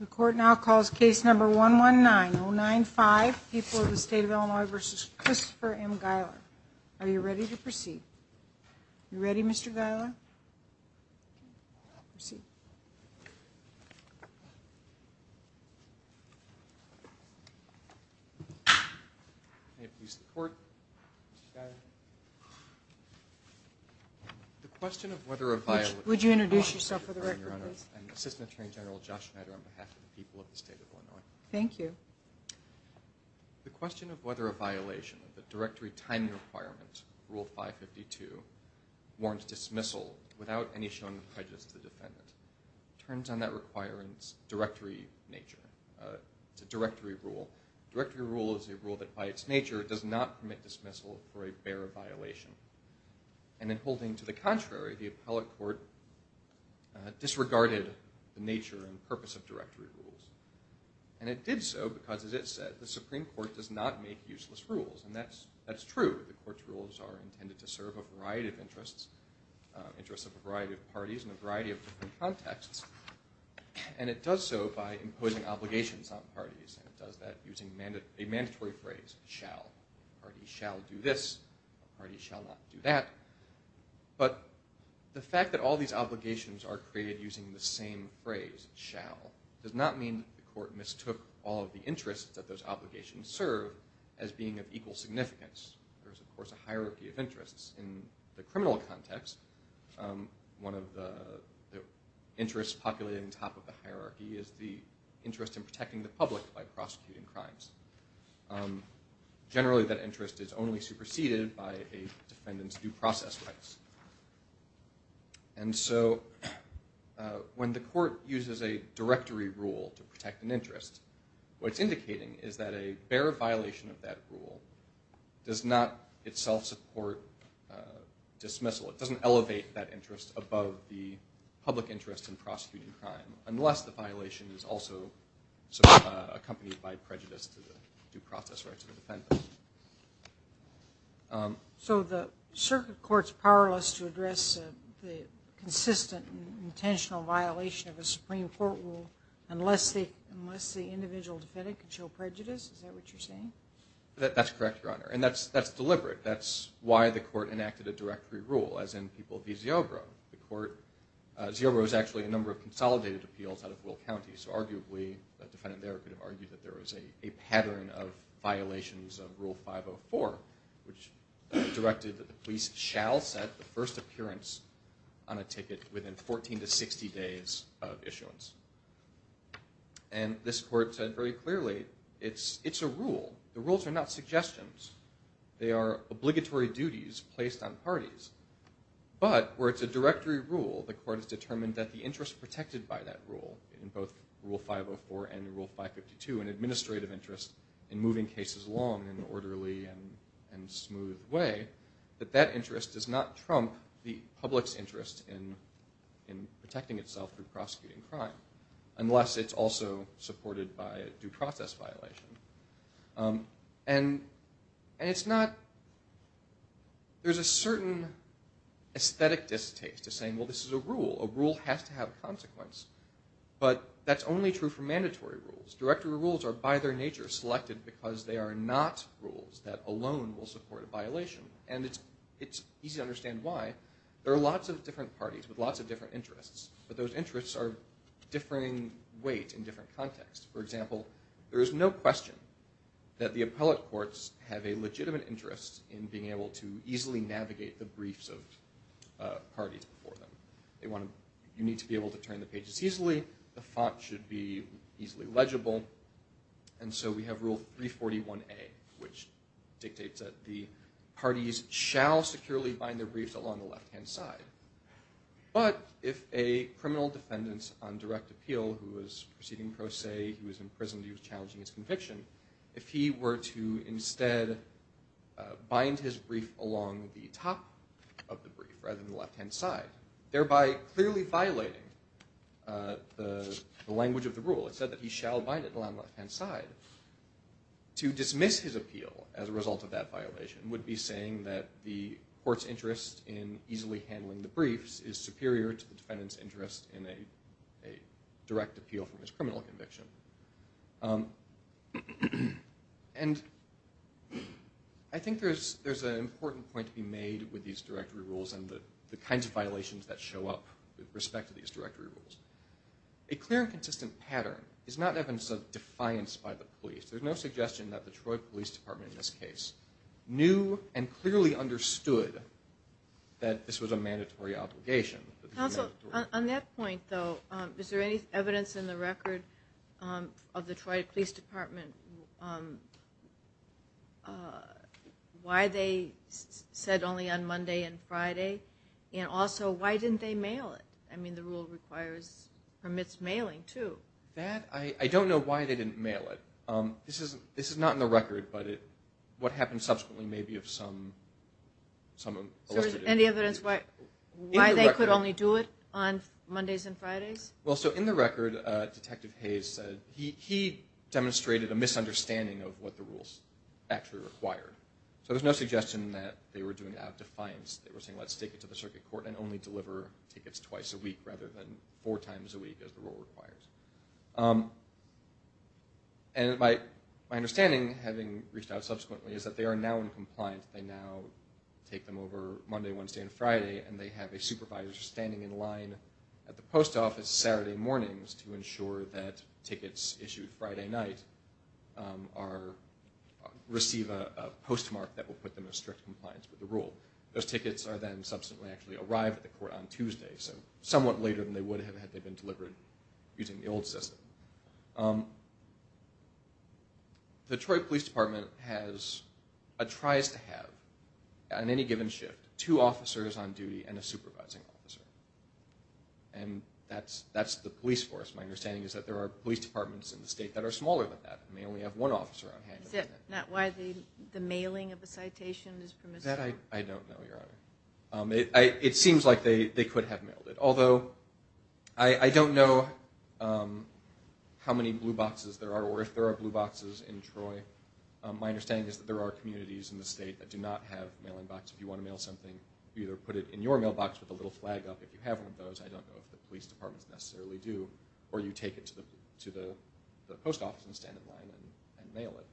The court now calls case number one one nine oh nine five people of the state of Illinois versus Christopher M Geiler, are you ready to proceed? You ready? Mr. Gailer Proceed The question of whether a violent would you introduce yourself for the record Thank you The question of whether a violation of the directory timing requirements rule 552 warrants dismissal without any showing of prejudice to the defendant. It turns on that requirements directory nature It's a directory rule. Directory rule is a rule that by its nature does not permit dismissal for a bare violation and then holding to the contrary the appellate court disregarded the nature and purpose of directory rules and It did so because as it said the Supreme Court does not make useless rules And that's that's true. The court's rules are intended to serve a variety of interests interests of a variety of parties in a variety of different contexts and It does so by imposing obligations on parties and it does that using a mandatory phrase shall Party shall do this. Party shall not do that But the fact that all these obligations are created using the same phrase shall Does not mean the court mistook all of the interests that those obligations serve as being of equal significance There's of course a hierarchy of interests in the criminal context one of the Interests populated on top of the hierarchy is the interest in protecting the public by prosecuting crimes Generally that interest is only superseded by a defendant's due process rights and So When the court uses a directory rule to protect an interest what's indicating is that a bare violation of that rule Does not itself support Dismissal it doesn't elevate that interest above the public interest in prosecuting crime unless the violation is also So accompanied by prejudice to the due process rights of the defendant So the circuit courts powerless to address the consistent Intentional violation of a Supreme Court rule unless the unless the individual defendant can show prejudice. Is that what you're saying? That's correct. Your honor and that's that's deliberate. That's why the court enacted a directory rule as in people v. Ziobro the court Ziobro is actually a number of consolidated appeals out of Will County so arguably a defendant there could have argued that there was a pattern of violations of rule 504 which Directed that the police shall set the first appearance on a ticket within 14 to 60 days of issuance and This court said very clearly it's it's a rule the rules are not suggestions. They are obligatory duties placed on parties But where it's a directory rule the court has determined that the interest protected by that rule in both rule 504 and rule 552 an administrative interest in moving cases along in an orderly and Smooth way that that interest does not trump the public's interest in in Protecting itself through prosecuting crime unless it's also supported by due process violation and And it's not There's a certain Aesthetic distaste to saying well, this is a rule a rule has to have consequence But that's only true for mandatory rules directory rules are by their nature selected because they are not rules that alone will support a Violation and it's it's easy to understand why there are lots of different parties with lots of different interests, but those interests are Differing weight in different contexts for example there is no question That the appellate courts have a legitimate interest in being able to easily navigate the briefs of Parties before them they want to you need to be able to turn the pages easily the font should be easily legible and So we have rule 341 a which dictates that the parties shall securely bind their briefs along the left-hand side But if a criminal defendants on direct appeal who was proceeding pro se who was in prison He was challenging his conviction if he were to instead Bind his brief along the top of the brief rather than the left-hand side thereby clearly violating The language of the rule it said that he shall bind it along left-hand side to dismiss his appeal as a result of that violation would be saying that the courts interest in easily handling the briefs is superior to the defendants interest in a a direct appeal from his criminal conviction And I think there's there's an important point to be made with these directory rules and the kinds of violations that show up with respect to these directory rules a Clear and consistent pattern is not evidence of defiance by the police There's no suggestion that the Troy Police Department in this case knew and clearly understood that This was a mandatory obligation On that point though is there any evidence in the record of the Troy Police Department? Why they Said only on Monday and Friday and also, why didn't they mail it? I mean the rule requires Permits mailing to that. I I don't know why they didn't mail it This is this is not in the record, but it what happened subsequently maybe of some Some any evidence what why they could only do it on Mondays and Fridays well so in the record Detective Hayes said he Demonstrated a misunderstanding of what the rules actually required, so there's no suggestion that they were doing it out of defiance They were saying let's take it to the circuit court and only deliver Tickets twice a week rather than four times a week as the rule requires and My my understanding having reached out subsequently is that they are now in compliance they now Take them over Monday Wednesday and Friday And they have a supervisor standing in line at the post office Saturday mornings to ensure that tickets issued Friday night are Receive a postmark that will put them in strict compliance with the rule those tickets are then subsequently actually arrived at the court on Tuesday So somewhat later than they would have had they been delivered using the old system The Troy Police Department has a tries to have On any given shift two officers on duty and a supervising officer and That's that's the police force my understanding is that there are police departments in the state that are smaller than that I mean we have one officer on hand is it not why the the mailing of the citation is from that I I don't know your honor. I it seems like they they could have mailed it although I Don't know How many blue boxes there are or if there are blue boxes in Troy My understanding is that there are communities in the state that do not have Mailing box if you want to mail something either put it in your mailbox with a little flag up if you have one of those I don't know if the police departments necessarily do or you take it to the to the post office and stand in line and mail it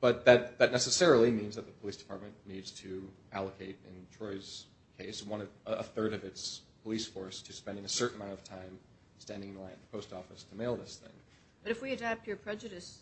But that that necessarily means that the police department needs to allocate in Troy's Case one of a third of its police force to spending a certain amount of time Standing line post office to mail this thing, but if we adapt your prejudice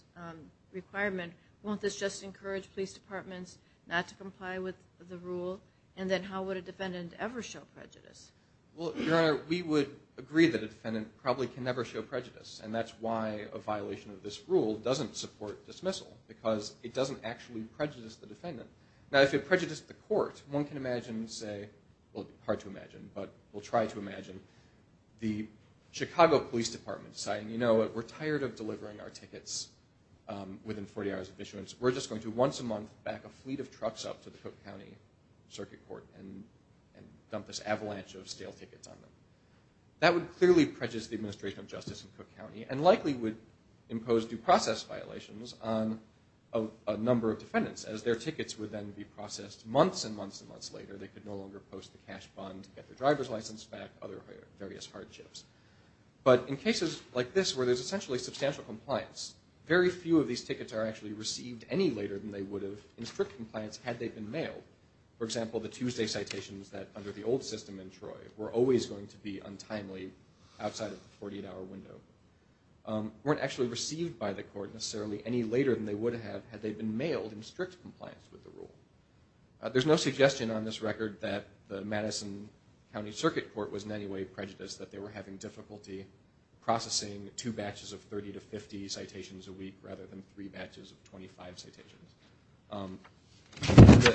Requirement won't this just encourage police departments not to comply with the rule, and then how would a defendant ever show prejudice? Well your honor We would agree that a defendant probably can never show prejudice And that's why a violation of this rule doesn't support dismissal because it doesn't actually prejudice the defendant now If it prejudiced the court one can imagine say well hard to imagine, but we'll try to imagine The Chicago Police Department saying you know what we're tired of delivering our tickets Within 40 hours of issuance. We're just going to once a month back a fleet of trucks up to the Cook County Circuit Court and and dump this avalanche of stale tickets on them that would clearly prejudice the administration of justice in Cook County and likely would impose due process violations on a Number of defendants as their tickets would then be processed months and months and months later They could no longer post the cash bond to get the driver's license back other various hardships But in cases like this where there's essentially substantial compliance Very few of these tickets are actually received any later than they would have in strict compliance had they've been mailed For example the Tuesday citations that under the old system in Troy were always going to be untimely outside of the 48-hour window Weren't actually received by the court necessarily any later than they would have had they've been mailed in strict compliance with the rule There's no suggestion on this record that the Madison County Circuit Court was in any way prejudiced that they were having difficulty Processing two batches of 30 to 50 citations a week rather than three batches of 25 citations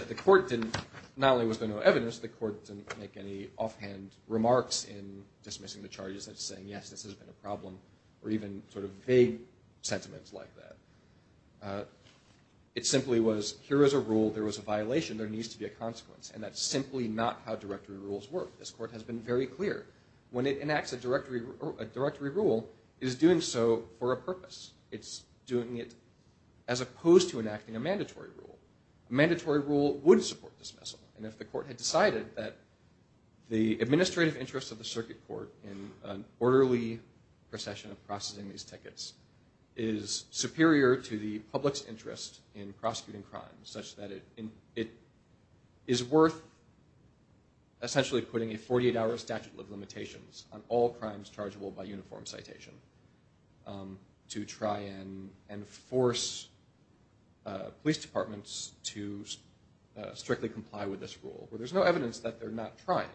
The court didn't not only was there no evidence the court didn't make any offhand remarks in dismissing the charges That's saying yes, this has been a problem or even sort of vague sentiments like that It simply was here is a rule there was a violation there needs to be a consequence And that's simply not how directory rules work this court has been very clear when it enacts a directory Directory rule is doing so for a purpose It's doing it as opposed to enacting a mandatory rule Mandatory rule would support dismissal and if the court had decided that the administrative interests of the circuit court in an orderly procession of processing these tickets is Superior to the public's interest in prosecuting crimes such that it in it is worth Essentially putting a 48-hour statute of limitations on all crimes chargeable by uniform citation to try and enforce police departments to Strictly comply with this rule where there's no evidence that they're not trying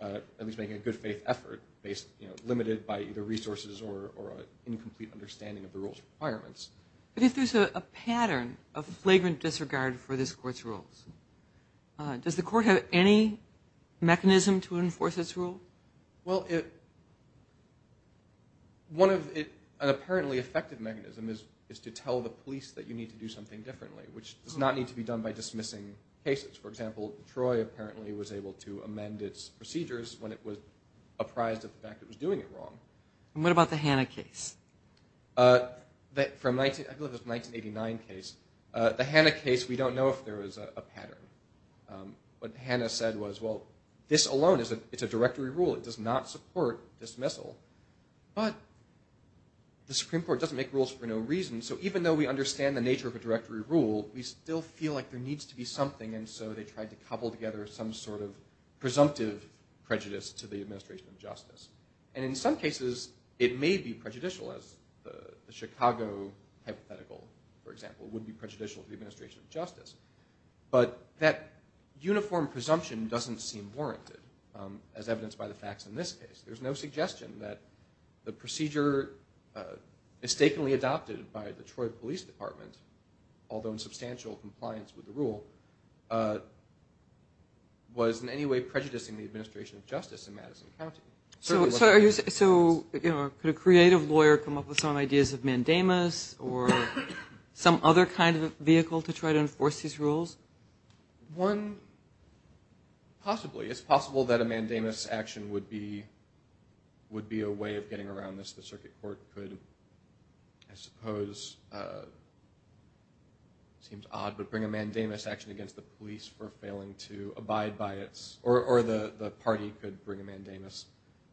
At least making a good faith effort based Limited by either resources or Incomplete understanding of the rules requirements, but if there's a pattern of flagrant disregard for this courts rules Does the court have any? Mechanism to enforce its rule well it One of it an apparently effective mechanism is is to tell the police that you need to do something differently Which does not need to be done by dismissing cases for example Troy apparently was able to amend its procedures when it was Apprised of the fact that was doing it wrong, and what about the Hanna case? That from 1989 case the Hanna case. We don't know if there was a pattern But Hanna said was well this alone is a it's a directory rule. It does not support dismissal, but The Supreme Court doesn't make rules for no reason so even though we understand the nature of a directory rule We still feel like there needs to be something and so they tried to cobble together some sort of presumptive Prejudice to the administration of justice and in some cases it may be prejudicial as the Chicago Hypothetical for example would be prejudicial to the administration of justice But that uniform presumption doesn't seem warranted as evidenced by the facts in this case. There's no suggestion that the procedure Mistakenly adopted by the Troy Police Department although in substantial compliance with the rule Was In any way prejudicing the administration of justice in Madison County so so you know could a creative lawyer come up with some ideas of mandamus or Some other kind of vehicle to try to enforce these rules one Possibly it's possible that a mandamus action would be Would be a way of getting around this the circuit court could I suppose Seems Odd but bring a mandamus action against the police for failing to abide by its or the the party could bring a mandamus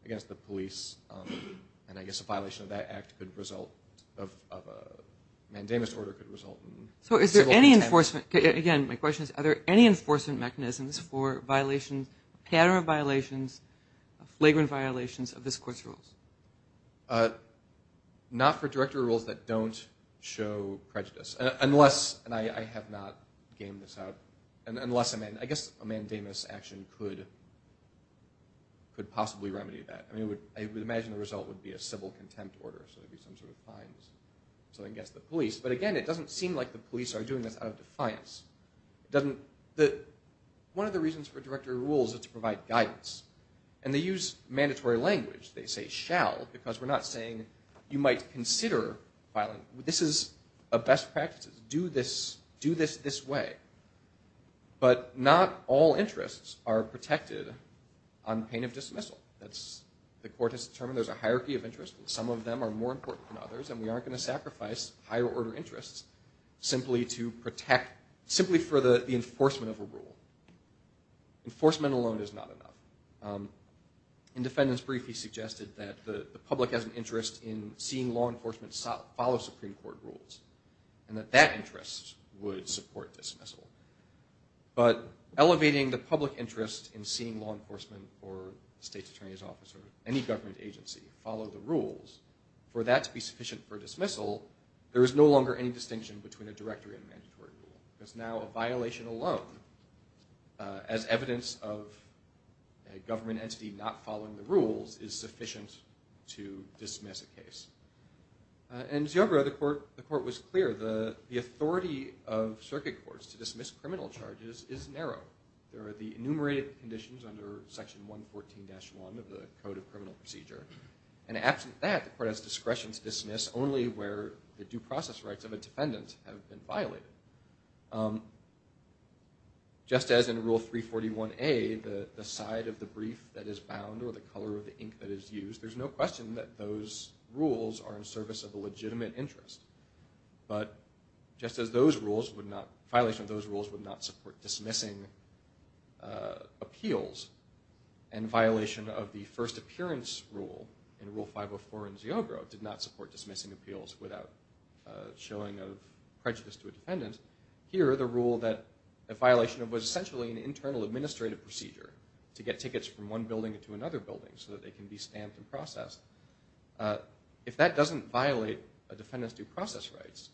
against the police and I guess a violation of that act could result of a Mandamus order could result so is there any enforcement again? My question is are there any enforcement mechanisms for violations pattern of violations? flagrant violations of this course rules But Not for directory rules that don't show prejudice unless and I have not gamed this out And unless I'm in I guess a mandamus action could Could possibly remedy that I mean it would imagine the result would be a civil contempt order so there'd be some sort of fines So I guess the police, but again. It doesn't seem like the police are doing this out of defiance doesn't the One of the reasons for directory rules is to provide guidance and they use mandatory language They say shall because we're not saying you might consider Violent this is a best practices do this do this this way But not all interests are protected on pain of dismissal That's the court has determined There's a hierarchy of interest and some of them are more important than others and we aren't going to sacrifice higher-order interests Simply to protect simply for the enforcement of a rule Enforcement alone is not enough In defendants brief he suggested that the public has an interest in seeing law enforcement Follow Supreme Court rules and that that interest would support dismissal But elevating the public interest in seeing law enforcement or state's attorney's officer any government agency follow the rules For that to be sufficient for dismissal. There is no longer any distinction between a directory and mandatory rule. It's now a violation alone as evidence of A government entity not following the rules is sufficient to dismiss a case And yoga the court the court was clear the the authority of circuit courts to dismiss criminal charges is narrow there are the enumerated conditions under section 114 dash 1 of the Code of Criminal Procedure and Absent that the court has discretion to dismiss only where the due process rights of a defendant have been violated Just As in rule 341 a the the side of the brief that is bound or the color of the ink that is used There's no question that those rules are in service of a legitimate interest But just as those rules would not violation of those rules would not support dismissing Appeals and violation of the first appearance rule in rule 504 in Zio bro did not support dismissing appeals without showing of Prejudice to a defendant here the rule that a violation of was essentially an internal administrative procedure To get tickets from one building to another building so that they can be stamped and processed If that doesn't violate a defendant's due process rights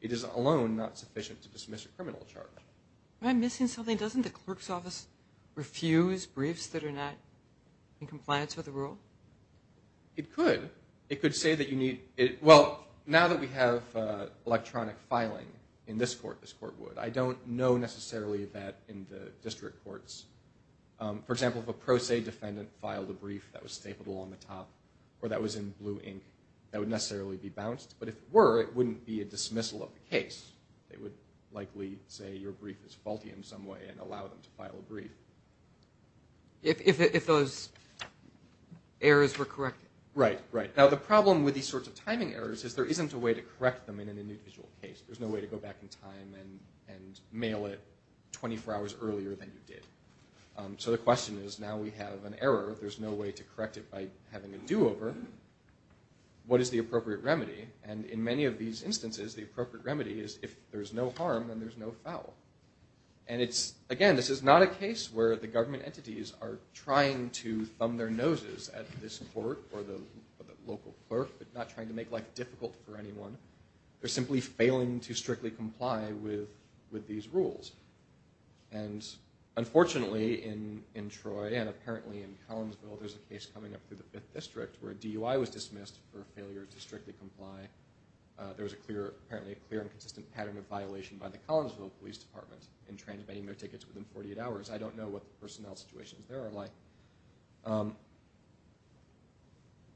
it is alone not sufficient to dismiss a criminal charge I'm missing something doesn't the clerk's office Refuse briefs that are not in compliance with the rule It could it could say that you need it well now that we have Electronic filing in this court this court would I don't know necessarily that in the district courts For example if a pro se defendant filed a brief that was stapled along the top or that was in blue ink That would necessarily be bounced But if were it wouldn't be a dismissal of the case They would likely say your brief is faulty in some way and allow them to file a brief if those Errors were corrected right right now the problem with these sorts of timing errors is there isn't a way to correct them in an individual Case there's no way to go back in time and and mail it 24 hours earlier than you did So the question is now we have an error. There's no way to correct it by having a do-over What is the appropriate remedy and in many of these instances the appropriate remedy is if there's no harm, then there's no foul and it's again This is not a case where the government entities are trying to thumb their noses at this court or the local clerk It's not trying to make life difficult for anyone. They're simply failing to strictly comply with with these rules and Unfortunately in in Troy and apparently in Collinsville There's a case coming up through the fifth district where a DUI was dismissed for failure to strictly comply There was a clear apparently a clear and consistent pattern of violation by the Collinsville Police Department in Transmitting their tickets within 48 hours. I don't know what the personnel situations there are like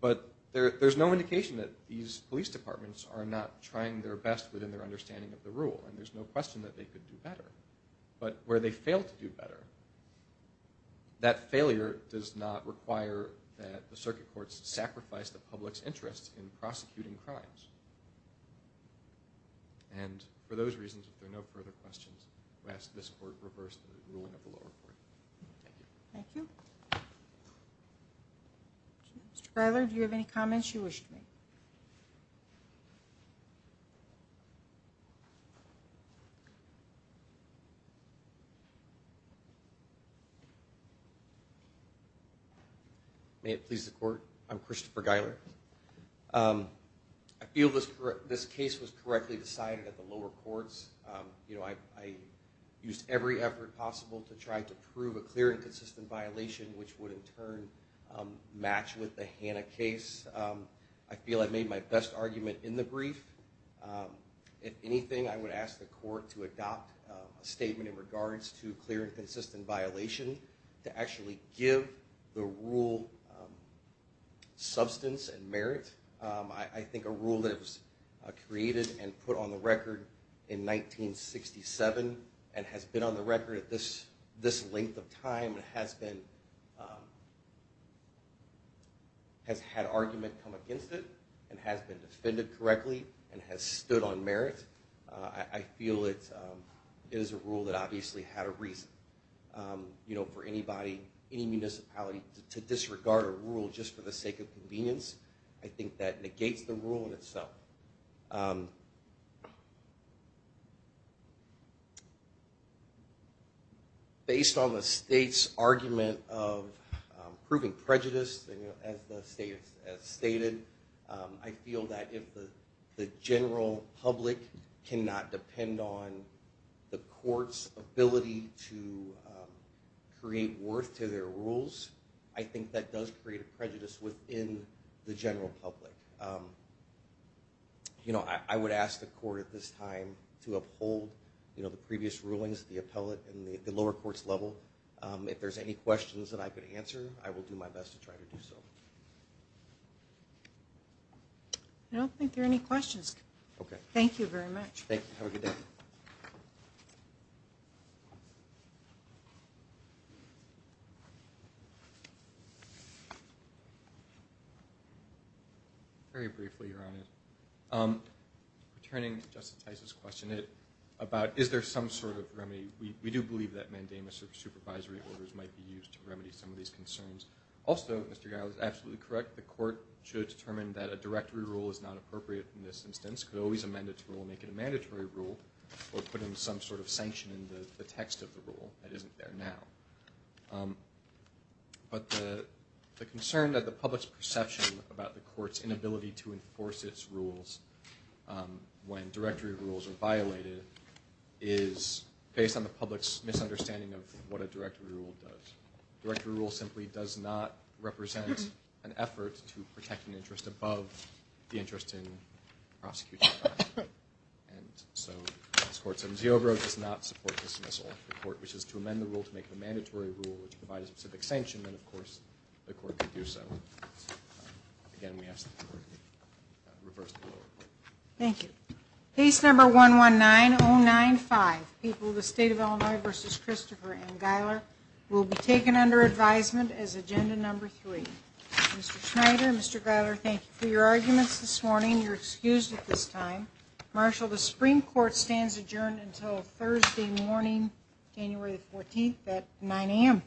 But there's no indication that these police departments are not trying their best within their understanding of the rule And there's no question that they could do better But where they fail to do better That failure does not require that the circuit courts sacrifice the public's interest in prosecuting crimes and For those reasons if there are no further questions, we ask this court reverse the ruling of the lower court. Thank you. Mr. Giler, do you have any comments you wish to make? May it please the court. I'm Christopher Giler I feel this this case was correctly decided at the lower courts, you know I used every effort possible to try to prove a clear and consistent violation which would in turn Match with the Hanna case. I feel I've made my best argument in the brief If anything, I would ask the court to adopt a statement in regards to clear and consistent violation to actually give the rule Substance and merit. I think a rule that was created and put on the record in 1967 and has been on the record at this this length of time and has been Has had argument come against it and has been defended correctly and has stood on merit. I feel it Is a rule that obviously had a reason You know for anybody any municipality to disregard a rule just for the sake of convenience I think that negates the rule in itself Based on the state's argument of proving prejudice as the state has stated I feel that if the general public cannot depend on the courts ability to Create worth to their rules. I think that does create a prejudice within the general public You know, I would ask the court at this time to uphold You know the previous rulings the appellate and the lower courts level If there's any questions that I could answer I will do my best to try to do so No, I think there any questions, okay. Thank you very much You Very briefly your honor Returning justifies this question it about is there some sort of remedy? We do believe that mandamus of supervisory orders might be used to remedy some of these concerns. Also, mr Guy was absolutely correct The court should determine that a directory rule is not appropriate in this instance could always amend its rule make it a mandatory rule Or put in some sort of sanction in the text of the rule that isn't there now But the the concern that the public's perception about the court's inability to enforce its rules when directory rules are violated is Based on the public's misunderstanding of what a directory rule does directory rule simply does not represent an effort to protect an interest above the interest in prosecution And so sports in Geo bro does not support dismissal report Which is to amend the rule to make a mandatory rule which provide a specific sanction then of course the court could do so Again, we have Thank you case number one one nine 095 people the state of Illinois versus Christopher and Guyler will be taken under advisement as agenda number three Mr.. Schneider, mr. Guyler. Thank you for your arguments this morning. You're excused at this time Marshall the Supreme Court stands adjourned until Thursday morning January 14th at 9 a.m.